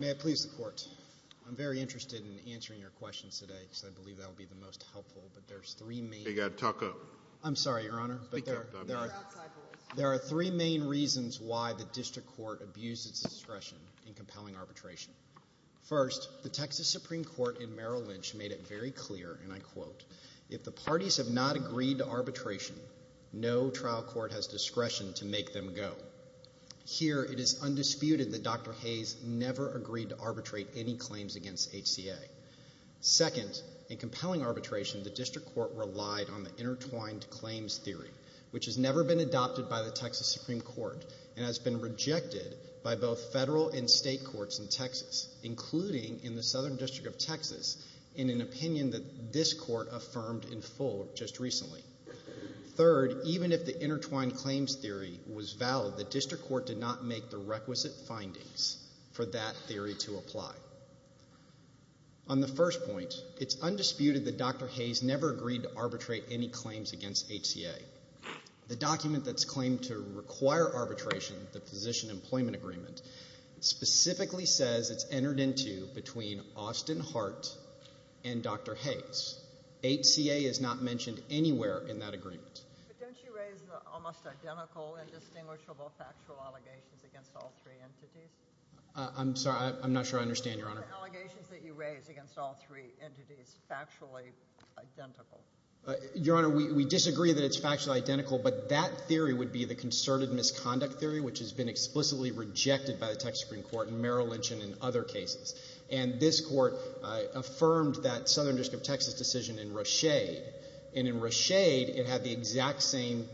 May I please the court? I'm very interested in answering your questions today because I believe that will be the most helpful, but there are three main reasons why the district court abused its discretion in compelling arbitration. First, the Texas Supreme Court in Merrill Lynch made it very clear, and I quote, ìIf the parties have not agreed to arbitration, no trial court has discretion to make them go.î Here, it is undisputed that Dr. Hays never agreed to arbitrate any claims against HCA. Second, in compelling arbitration, the district court relied on the intertwined claims theory, which has never been adopted by the Texas Supreme Court and has been rejected by both federal and state courts in Texas, including in the Southern District of Texas in an opinion that this court affirmed in full just recently. Third, even if the intertwined claims theory was valid, the district court did not make the requisite findings for that theory to apply. On the first point, it's undisputed that Dr. Hays never agreed to arbitrate any claims against HCA. The document that's claimed to require arbitration, the Physician Employment Agreement, specifically says it's entered into between Austin Hart and Dr. Hays. HCA is not mentioned anywhere in that agreement. But don't you raise the almost identical indistinguishable factual allegations against all three entities? I'm sorry, I'm not sure I understand, Your Honor. The allegations that you raise against all three entities factually identical. Your Honor, we disagree that it's factually identical, but that theory would be the concerted misconduct theory, which has been explicitly rejected by the Texas Supreme Court in Merrill Lynch and in other cases. And this court affirmed that Southern District of Texas decision in Rochade. And in Rochade, it had the exact same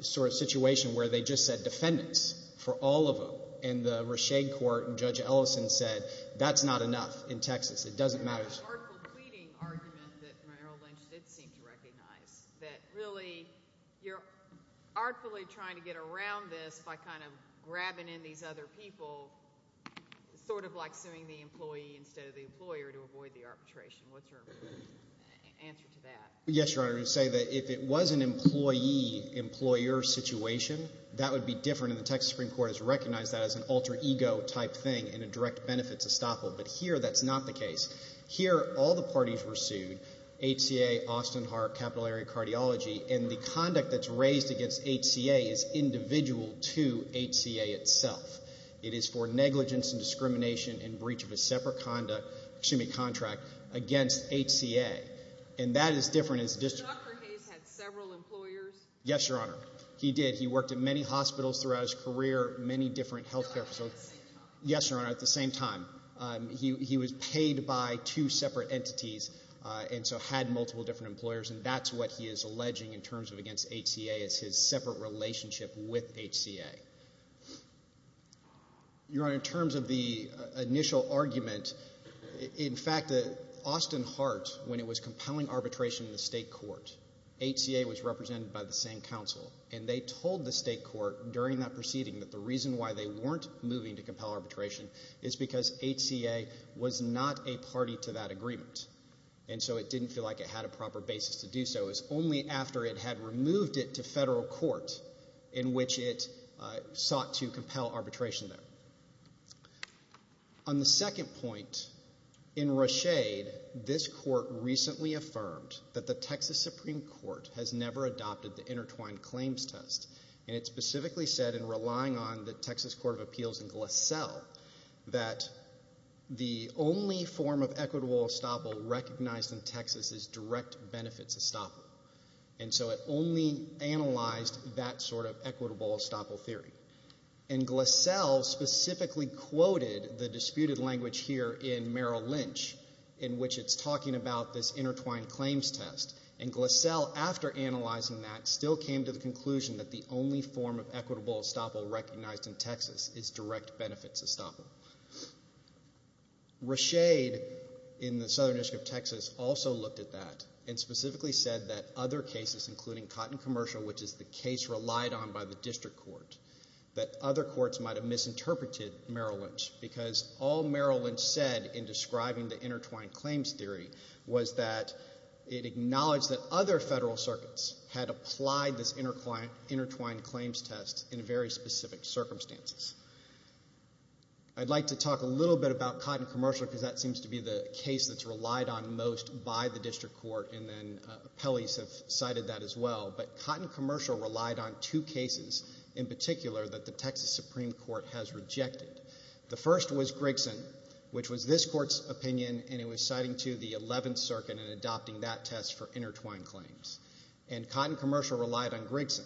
sort of situation where they just said defendants for all of them. In the Rochade court, Judge Ellison said, that's not enough in Texas. It doesn't matter. There's an artful pleading argument that Merrill Lynch did seem to recognize, that really, you're artfully trying to get around this by kind of grabbing in these other people, sort of like suing the employee instead of the employer to avoid the arbitration. What's your answer to that? Yes, Your Honor, I would say that if it was an employee-employer situation, that would be different, and the Texas Supreme Court has recognized that as an alter ego type thing and a direct benefit to Staple. But here, that's not the case. Here, all the parties were sued, HCA, Austin Heart, Capital Area Cardiology, and the conduct that's raised against HCA is individual to HCA itself. It is for negligence and discrimination and breach of a separate conduct, excuse me, contract against HCA. And that is different as a district. Dr. Hayes had several employers? Yes, Your Honor, he did. He worked in many hospitals throughout his career, many different healthcare facilities. Yes, Your Honor, at the same time. He was paid by two separate entities and so had multiple different employers, and that's what he is alleging in terms of against HCA is his separate relationship with HCA. Your Honor, in terms of the initial argument, in fact, Austin Heart, when it was compelling arbitration in the state court, HCA was represented by the same counsel, and they told the state court during that proceeding that the reason why they weren't moving to compel arbitration is because HCA was not a party to that agreement. And so it didn't feel like it had a proper basis to do so. It was only after it had removed it to federal court in which it sought to compel arbitration there. On the second point, in Rashid, this court recently affirmed that the Texas Supreme Court has never adopted the intertwined claims test, and it specifically said in relying on the Texas Court of Appeals in Glassell that the only form of equitable estoppel recognized in Texas is direct benefits estoppel. And so it only analyzed that sort of equitable estoppel theory. And Glassell specifically quoted the disputed language here in Merrill Lynch, in which it's talking about this intertwined claims test. And Glassell, after analyzing that, still came to the conclusion that the only form of equitable estoppel recognized in Texas is direct benefits estoppel. Rashid, in the Southern District of Texas, also looked at that and specifically said that other cases, including Cotton Commercial, which is the case relied on by the district court, that other courts might have misinterpreted Merrill Lynch said in describing the intertwined claims theory, was that it acknowledged that other federal circuits had applied this intertwined claims test in very specific circumstances. I'd like to talk a little bit about Cotton Commercial because that seems to be the case that's relied on most by the district court, and then appellees have cited that as well. But Cotton Commercial relied on two cases in particular that the Texas Supreme Court has rejected. The first was Grigson, which was this court's opinion, and it was citing to the 11th Circuit in adopting that test for intertwined claims. And Cotton Commercial relied on Grigson.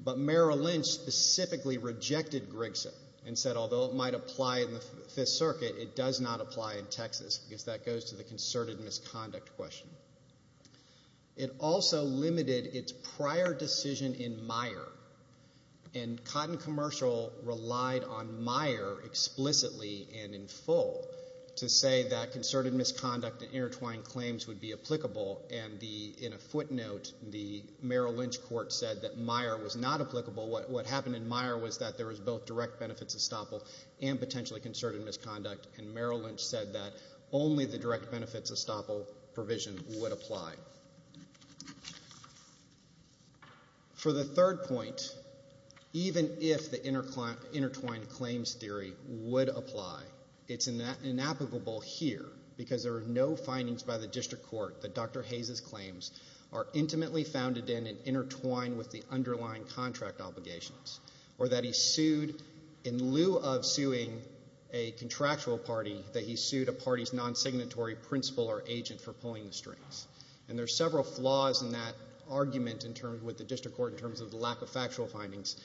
But Merrill Lynch specifically rejected Grigson and said, although it might apply in the 5th Circuit, it does not apply in Texas, because that goes to the concerted misconduct question. It also limited its prior decision in Meyer, and Cotton Commercial relied on Meyer explicitly and in full to say that concerted misconduct and intertwined claims would be applicable. And in a footnote, the Merrill Lynch court said that Meyer was not applicable. What happened in Meyer was that there was both direct benefits estoppel and potentially concerted misconduct, and Merrill Lynch said that only the direct benefits of intertwined claims theory would apply. It's inapplicable here, because there are no findings by the district court that Dr. Hayes's claims are intimately founded in and intertwined with the underlying contract obligations, or that he sued in lieu of suing a contractual party, that he sued a party's non-signatory principal or agent for pulling the strings. And there's several flaws in that argument with the district court in terms of the lack of factual findings.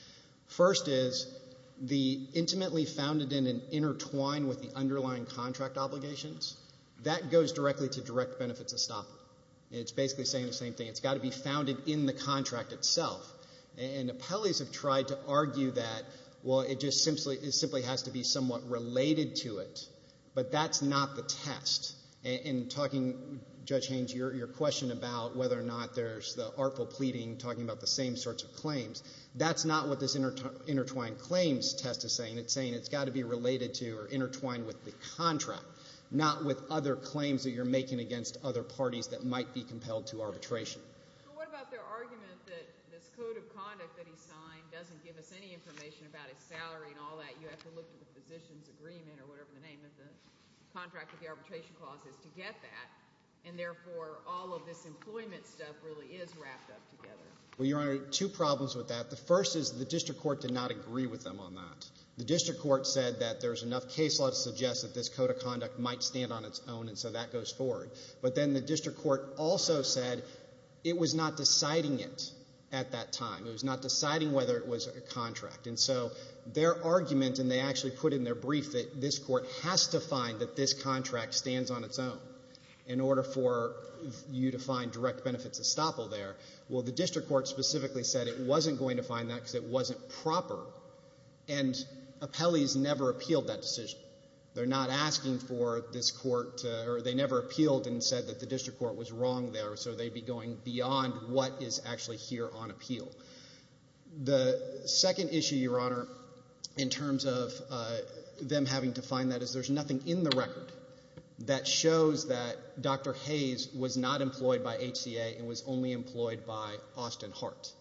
First is, the intimately founded in and intertwined with the underlying contract obligations, that goes directly to direct benefits estoppel. It's basically saying the same thing. It's got to be founded in the contract itself. And appellees have tried to argue that, well, it just simply has to be somewhat related to it, but that's not the test. In talking, Judge Haynes, your question about whether or not there's the artful pleading, talking about the same sorts of claims, that's not what this intertwined claims test is saying. It's saying it's got to be related to or intertwined with the contract, not with other claims that you're making against other parties that might be compelled to arbitration. But what about their argument that this code of conduct that he signed doesn't give us any information about his salary and all that? You have to look at the physician's agreement or whatever the name of the contract of the arbitration clause is to get that, and therefore all of this employment stuff really is wrapped up together. Well, Your Honor, two problems with that. The first is the district court did not agree with them on that. The district court said that there's enough case law to suggest that this code of conduct might stand on its own, and so that goes forward. But then the district court also said it was not deciding it at that time. It was not deciding whether it was a contract. And so their argument, and they actually put in their brief that this has to find that this contract stands on its own in order for you to find direct benefits estoppel there. Well, the district court specifically said it wasn't going to find that because it wasn't proper, and appellees never appealed that decision. They're not asking for this court to, or they never appealed and said that the district court was wrong there, so they'd be going beyond what is actually here on appeal. The second issue, Your Honor, in terms of them having to find that is there's nothing in the record that shows that Dr. Hayes was not employed by HCA and was only employed by Austin Hart.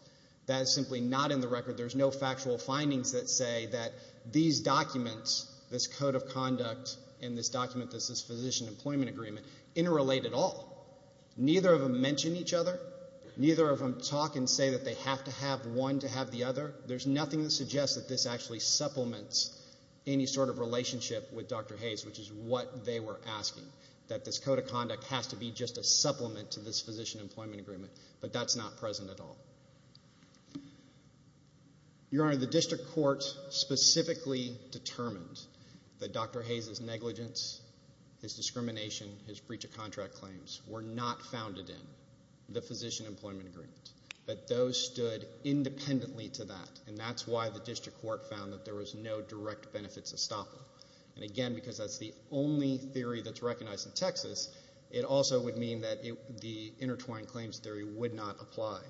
That is simply not in the record. There's no factual findings that say that these documents, this code of conduct and this document that says physician employment agreement interrelate at all. Neither of them mention each other. Neither of them talk and say that they have to have one to have the other. There's nothing that suggests that this actually supplements any sort of relationship with Dr. Hayes, which is what they were asking, that this code of conduct has to be just a supplement to this physician employment agreement, but that's not present at all. Your Honor, the district court specifically determined that Dr. Hayes' negligence, his discrimination, his breach of contract claims were not founded in the physician employment agreement, but those stood independently to that, and that's why the district court found that there was no direct benefits estoppel. And again, because that's the only theory that's recognized in Texas, it also would mean that the intertwined claims theory would not apply.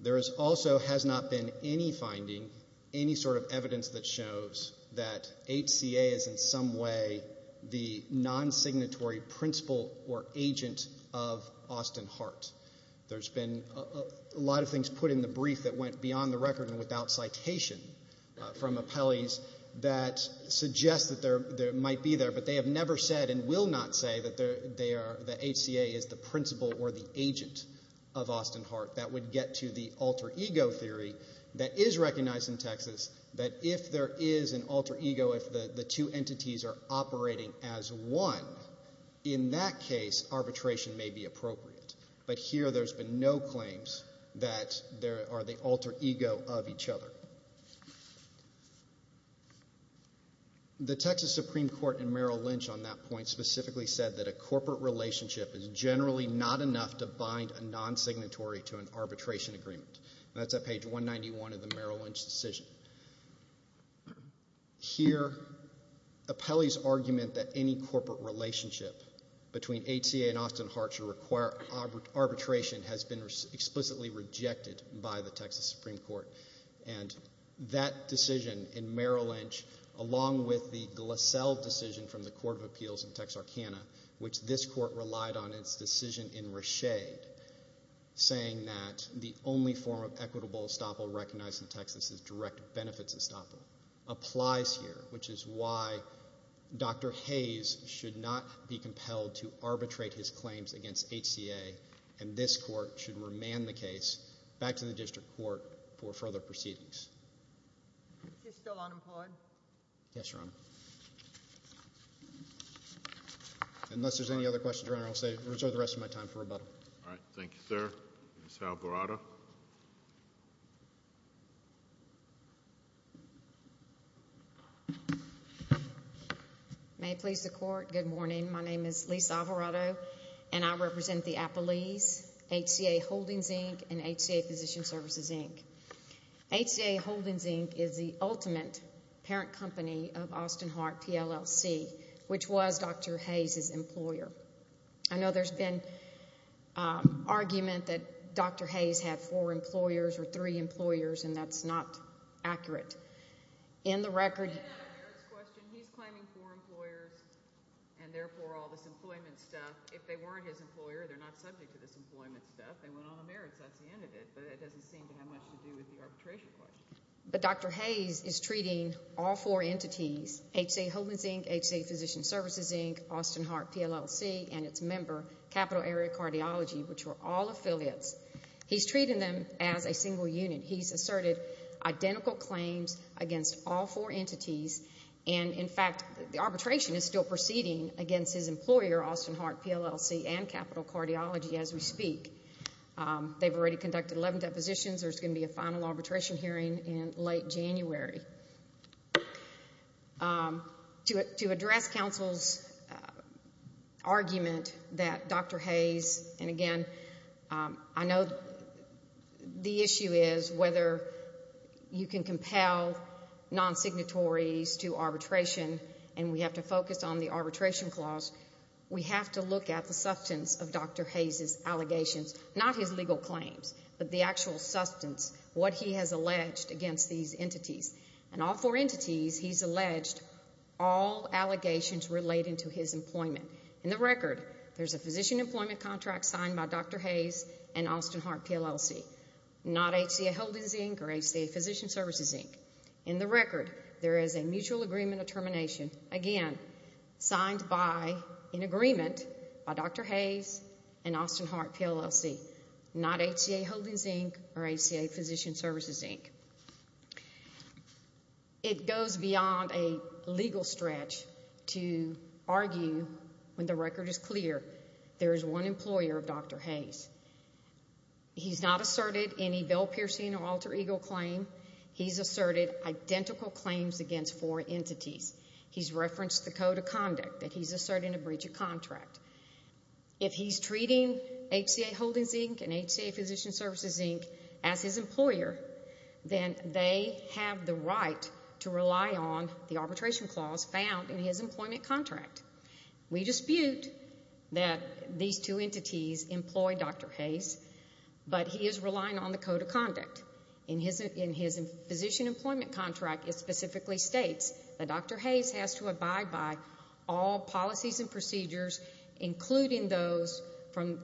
There also has not been any finding, any sort of evidence that shows that HCA is in some way the non-signatory principal or agent of Austin Hart. There's been a lot of things put in the brief that went beyond the record and without citation from appellees that suggest that they might be there, but they have never said and will not say that HCA is the principal or the agent of Austin Hart. That would get to the alter ego theory that is recognized in Texas, that if there is an alter ego, if the two entities are operating as one, in that case, arbitration may be appropriate. But here, there's been no claims that there are the alter ego of each other. The Texas Supreme Court in Merrill Lynch on that point specifically said that a corporate relationship is generally not enough to bind a non-signatory to an arbitration agreement. That's at page 191 of the Merrill Lynch decision. Here, appellees argument that any corporate relationship between HCA and Austin Hart to require arbitration has been explicitly rejected by the Texas Supreme Court. That decision in Merrill Lynch, along with the Glassell decision from the Court of Appeals in Texarkana, which this court relied on its decision in Reshade, saying that the only form of equitable estoppel recognized in Texas is direct benefits estoppel, applies here, which is why Dr. Hayes should not be compelled to arbitrate his claims against HCA, and this court should remand the case back to the district court for further proceedings. Unless there's any other questions, Your Honor, I'll reserve the rest of my time for rebuttal. All right. Thank you, sir. Ms. Alvarado. May it please the Court, good morning. My name is Lisa Alvarado, and I represent the appellees, HCA Holdings, Inc., and HCA Physician Services, Inc. HCA Holdings, Inc. is the ultimate parent company of Austin Hart, PLLC, which was Dr. Hayes' employer. I know there's been argument that Dr. Hayes had four employers or three employers, and that's not accurate. In the record, he's claiming four employers, and therefore all this employment stuff. If they weren't his employer, they're not subject to this employment stuff. They went on the merits. That's the end of it, but it doesn't seem to have much to do with the arbitration record. But Dr. Hayes is treating all four entities, HCA Holdings, Inc., HCA Physician Services, Inc., Austin Hart, PLLC, and its member, Capital Area Cardiology, which were all affiliates. He's treating them as a single unit. He's asserted identical claims against all four entities, and in fact, the arbitration is still proceeding against his employer, Austin Hart, PLLC, and Capital Cardiology as we speak. They've already conducted 11 depositions. There's going to be a final arbitration hearing in late January. To address counsel's argument that Dr. Hayes, and again, I know the issue is whether you can compel non-signatories to arbitration, and we have to focus on the arbitration clause, we have to look at the substance of Dr. Hayes' allegations, not his legal claims, but the actual substance, what he has alleged against these entities. And all four entities, he's alleged all allegations relating to his employment. In the record, there's a physician employment contract signed by Dr. Hayes and Austin Hart, PLLC, not HCA Holdings, Inc., or HCA Physician Services, Inc. In the record, there is a mutual agreement of termination, again, signed by in agreement by Dr. Hayes and Austin Hart, PLLC, not HCA Holdings, Inc., or HCA Physician Services, Inc. It goes beyond a legal stretch to argue, when the record is clear, there is one employer of Dr. Hayes. He's not asserted any Bill Piercing or Alter Ego claim. He's asserted identical claims against four entities. He's referenced the code of conduct that he's in breach of contract. If he's treating HCA Holdings, Inc. and HCA Physician Services, Inc. as his employer, then they have the right to rely on the arbitration clause found in his employment contract. We dispute that these two entities employ Dr. Hayes, but he is relying on the code of conduct. In his physician employment contract, it specifically states that Dr. Hayes must comply with all procedures, including those from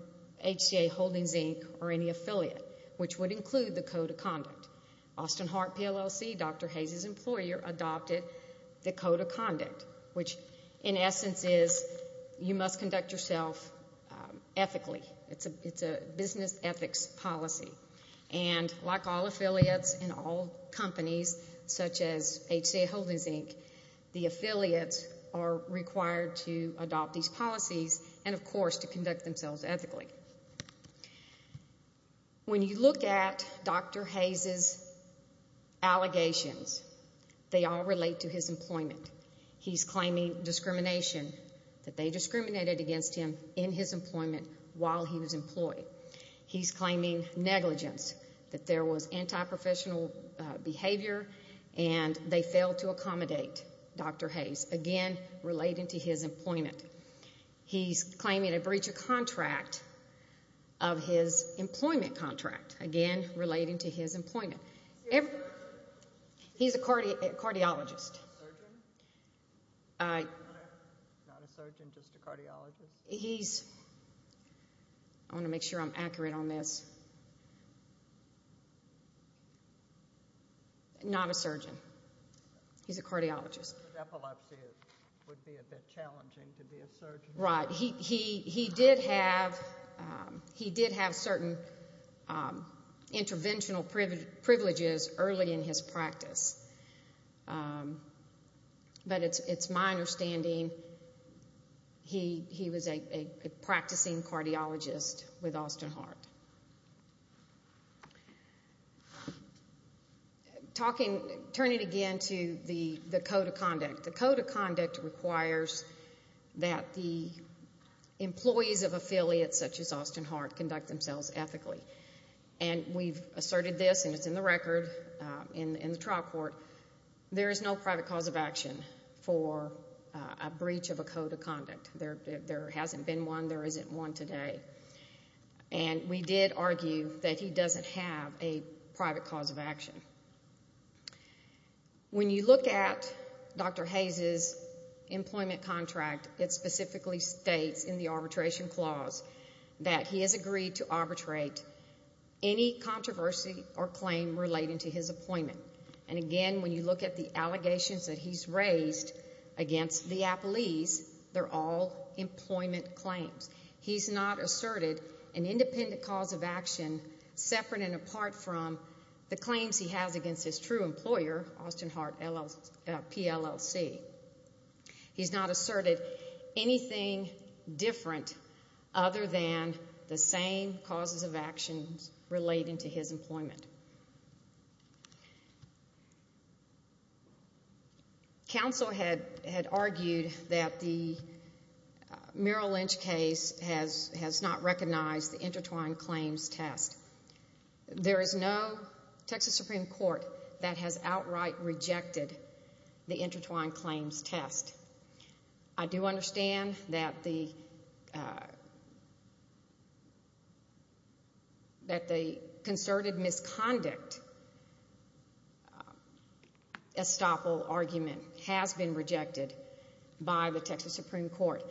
HCA Holdings, Inc., or any affiliate, which would include the code of conduct. Austin Hart, PLLC, Dr. Hayes' employer, adopted the code of conduct, which, in essence, is you must conduct yourself ethically. It's a business ethics policy. And like all affiliates in all companies, such as HCA Holdings, Inc., the affiliates are required to adopt these policies and, of course, to conduct themselves ethically. When you look at Dr. Hayes' allegations, they all relate to his employment. He's claiming discrimination, that they discriminated against him in his employment while he was employed. He's claiming negligence, that there was antiprofessional behavior and they failed to accommodate. Dr. Hayes, again, relating to his employment. He's claiming a breach of contract of his employment contract, again, relating to his employment. He's a cardiologist. I want to make sure I'm accurate on this. Not a surgeon. He's a cardiologist. He's a cardiologist. Right. He did have certain interventional privileges early in his practice. But it's my understanding he was a practicing cardiologist with Austin Hart. Turning again to the code of conduct, the code of conduct requires that the employees of affiliates such as Austin Hart conduct themselves ethically. And we've asserted this, and it's in the record in the trial court, there is no private cause of action for a breach of a code of conduct. There hasn't been one. There isn't one today. And we did argue that he doesn't have a private cause of action. When you look at Dr. Hayes' employment contract, it specifically states in the arbitration clause that he has agreed to arbitrate any controversy or claim relating to his appointment. And again, when you look at the allegations that he's raised against the Applees, they're all employment claims. He's not asserted an independent cause of action. The claims he has against his true employer, Austin Hart, PLLC, he's not asserted anything different other than the same causes of actions relating to his employment. Counsel had argued that the Merrill Lynch case has not recognized the intertwined claims test. There is no Texas Supreme Court that has outright rejected the intertwined claims test. I do understand that the concerted misconduct estoppel argument has been rejected by the court.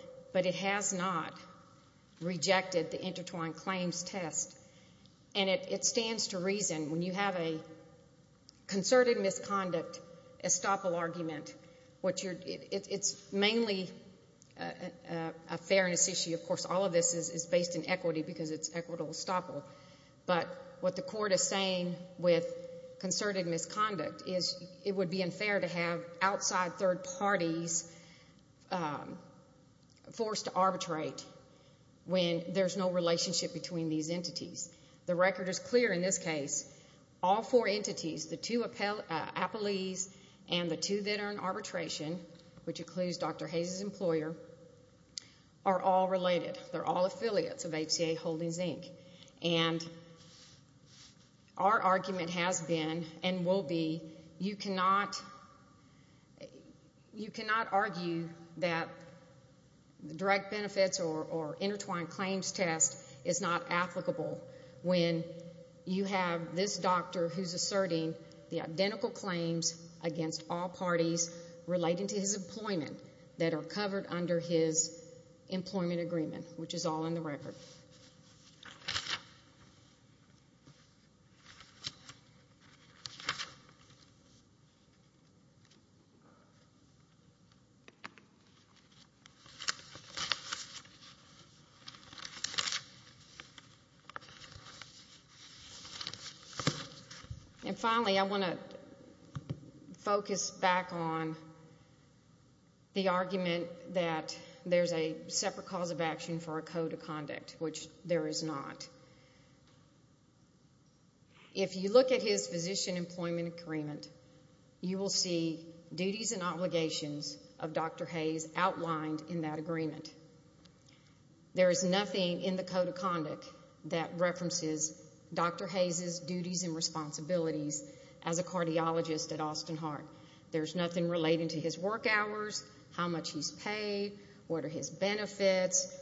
And it stands to reason, when you have a concerted misconduct estoppel argument, it's mainly a fairness issue. Of course, all of this is based in equity because it's equitable estoppel. But what the court is saying with concerted misconduct is it would be unfair to have outside third parties forced to arbitrate when there's no relationship between these entities. The record is clear in this case. All four entities, the two Applees and the two that are in arbitration, which includes Dr. Hayes's employer, are all related. They're all affiliates of HCA Holdings, Inc. And our argument has been and will be you cannot argue that direct benefits or intertwined claims test is not applicable when you have this doctor who's asserting the identical claims against all parties relating to his employment that are covered under his employment agreement, which is all in the record. And finally, I want to focus back on the argument that there's a separate cause of action for a code of conduct, which there is not. If you look at his physician employment agreement, you will see duties and obligations of Dr. Hayes outlined in that agreement. There is nothing in the code of conduct that references Dr. Hayes's duties and responsibilities as a cardiologist at Austin Heart. There's nothing relating to his work hours, how much he's paid, what are his benefits,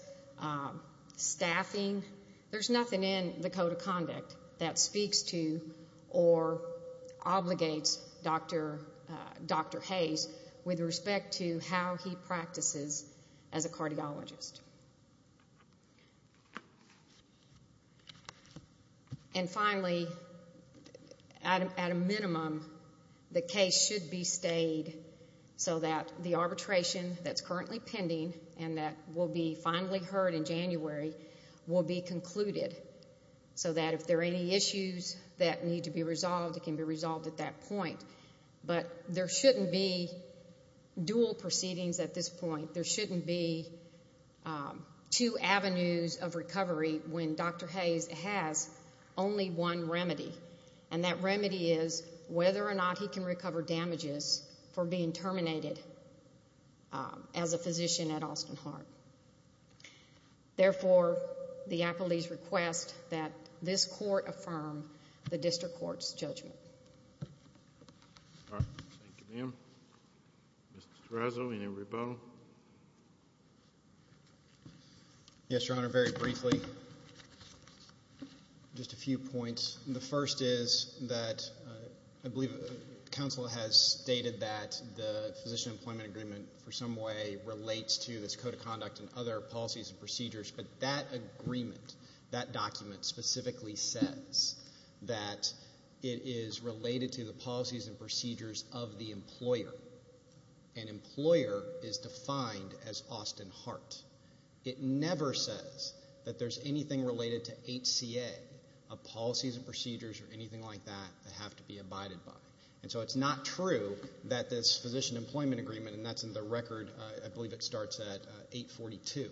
staffing. There's nothing in the code of conduct that speaks to or obligates Dr. Hayes with respect to how he practices as a cardiologist. And finally, at a minimum, the case should be stayed so that the arbitration that's currently pending and that will be finally heard in January will be concluded so that if there are any issues that need to be resolved, it can be resolved at that point. But there shouldn't be dual proceedings at this point. There shouldn't be two avenues of recovery when Dr. Hayes has only one remedy. And that remedy is whether or not he can recover damages for being terminated as a physician at Austin Heart. Therefore, the appellee's request that this court affirm the district court's judgment. All right. Thank you, ma'am. Mr. Terraso, any rebuttal? Yes, Your Honor. Very briefly, just a few points. The first is that I believe counsel has stated that the physician employment agreement for some way relates to this code of conduct and other policies and procedures, but that agreement, that document specifically says that it is related to the policies and procedures of the employer. An employer is defined as Austin Heart. It never says that there's anything related to HCA of policies and procedures or anything like that that have to be abided by. And so it's not true that this physician employment agreement, and that's in the record, I believe it starts at 842,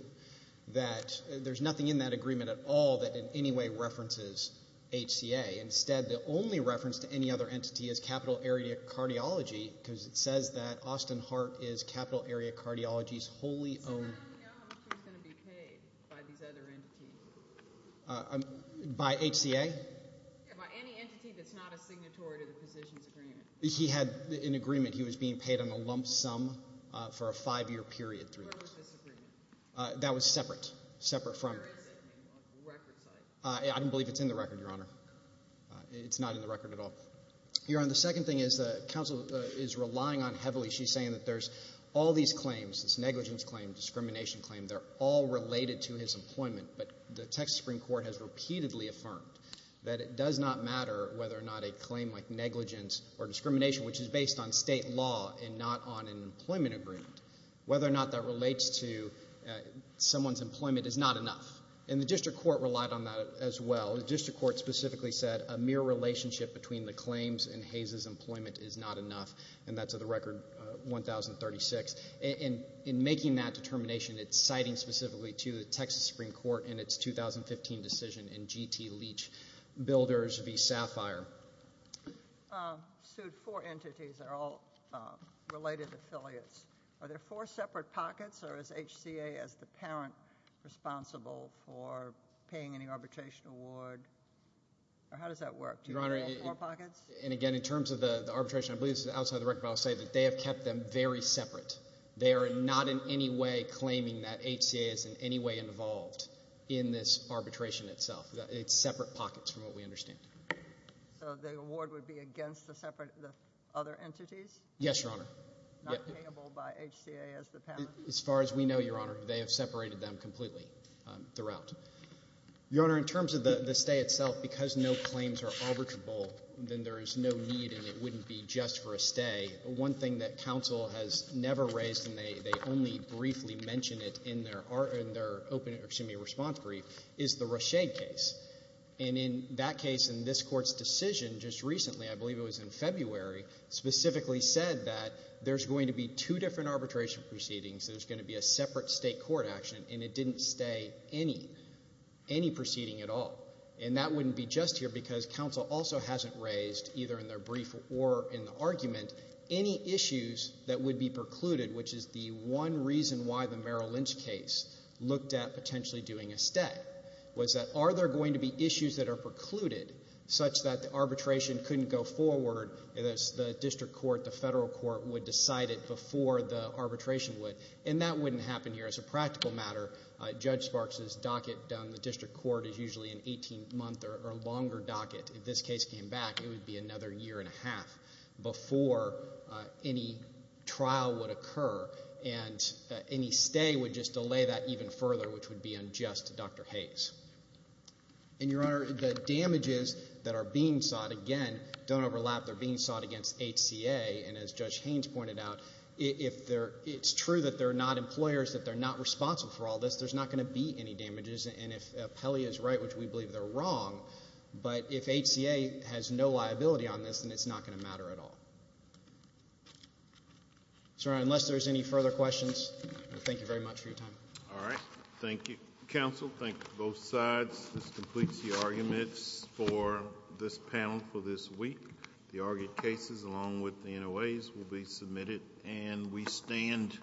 that there's nothing in that agreement at all that in any way references HCA. Instead, the only reference to any other entity is Capital Area Cardiology, because it says that Austin Heart is Capital Area Cardiology's wholly owned. So how do we know how much he's going to be paid by these other entities? By HCA? Yeah, by any entity that's not a signatory to the physician's agreement. He had an agreement. He was being paid on a lump sum for a five-year period. Where was this agreement? That was separate. Separate from... Where is it? On the record side? I don't believe it's in the record, Your Honor. It's not in the record at all. Your Honor, the second thing is that counsel is relying on heavily, she's saying that there's all these claims, this negligence claim, discrimination claim, they're all related to his employment, but the Texas Supreme Court has repeatedly affirmed that it does not matter whether or not a claim like negligence or discrimination, which is based on state law and not on an employment agreement, whether or not that relates to someone's employment is not enough. And the District Court relied on that as well. The District Court specifically said a mere relationship between the claims and Hayes' employment is not enough, and that's of the record 1036. In making that determination, it's citing specifically to the Texas Supreme Court in its 2015 decision in GT Leach Builders v. Sapphire. Sued four entities that are all related affiliates. Are there four separate pockets, or is HCA as the parent responsible for paying any arbitration award? Or how does that work? Do you have four pockets? Your Honor, and again, in terms of the arbitration, I believe this is outside the record, but I'll say that they have kept them very separate. They are not in any way claiming that HCA is in any way involved in this arbitration itself. It's separate pockets from what we understand. So the award would be against the separate other entities? Yes, Your Honor. Not payable by HCA as the parent? As far as we know, Your Honor, they have separated them completely throughout. Your Honor, in terms of the stay itself, because no claims are arbitrable, then there is no need and it wouldn't be just for a stay. One thing that counsel has never raised, and they only briefly mention it in their response brief, is the Rochade case. And in that case, in this Court's decision just recently, I believe it was in February, specifically said that there's going to be two different arbitration proceedings, there's going to be a separate state court action, and it didn't stay any, any proceeding at all. And that wouldn't be just here because counsel also hasn't raised, either in their brief or in the argument, any issues that would be precluded, which is the one reason why the Merrill Lynch case looked at potentially doing a stay, was that are there going to be issues that are precluded such that the arbitration couldn't go forward as the district court, the federal court would decide it before the arbitration would? And that wouldn't happen here. As a practical matter, Judge Sparks' docket down the district court is usually an 18-month or longer docket. If this case came back, it would be another year and a half before any trial would occur. And any stay would just delay that even further, which would be unjust to Dr. Hayes. And, Your Honor, the damages that are being sought, again, don't overlap. They're being sought against HCA, and as Judge Haynes pointed out, if they're, it's true that they're not employers, that they're not responsible for all this, there's not going to be any damages. And if Pelley is right, which we believe they're wrong, but if HCA has no liability on this, then it's not going to matter at all. So, Your Honor, unless there's any further questions, thank you very much for your time. All right. Thank you, counsel. Thank you to both sides. This completes the arguments for this panel for this week. The argued cases, along with the NOAs, will be submitted, and we stand adjourned.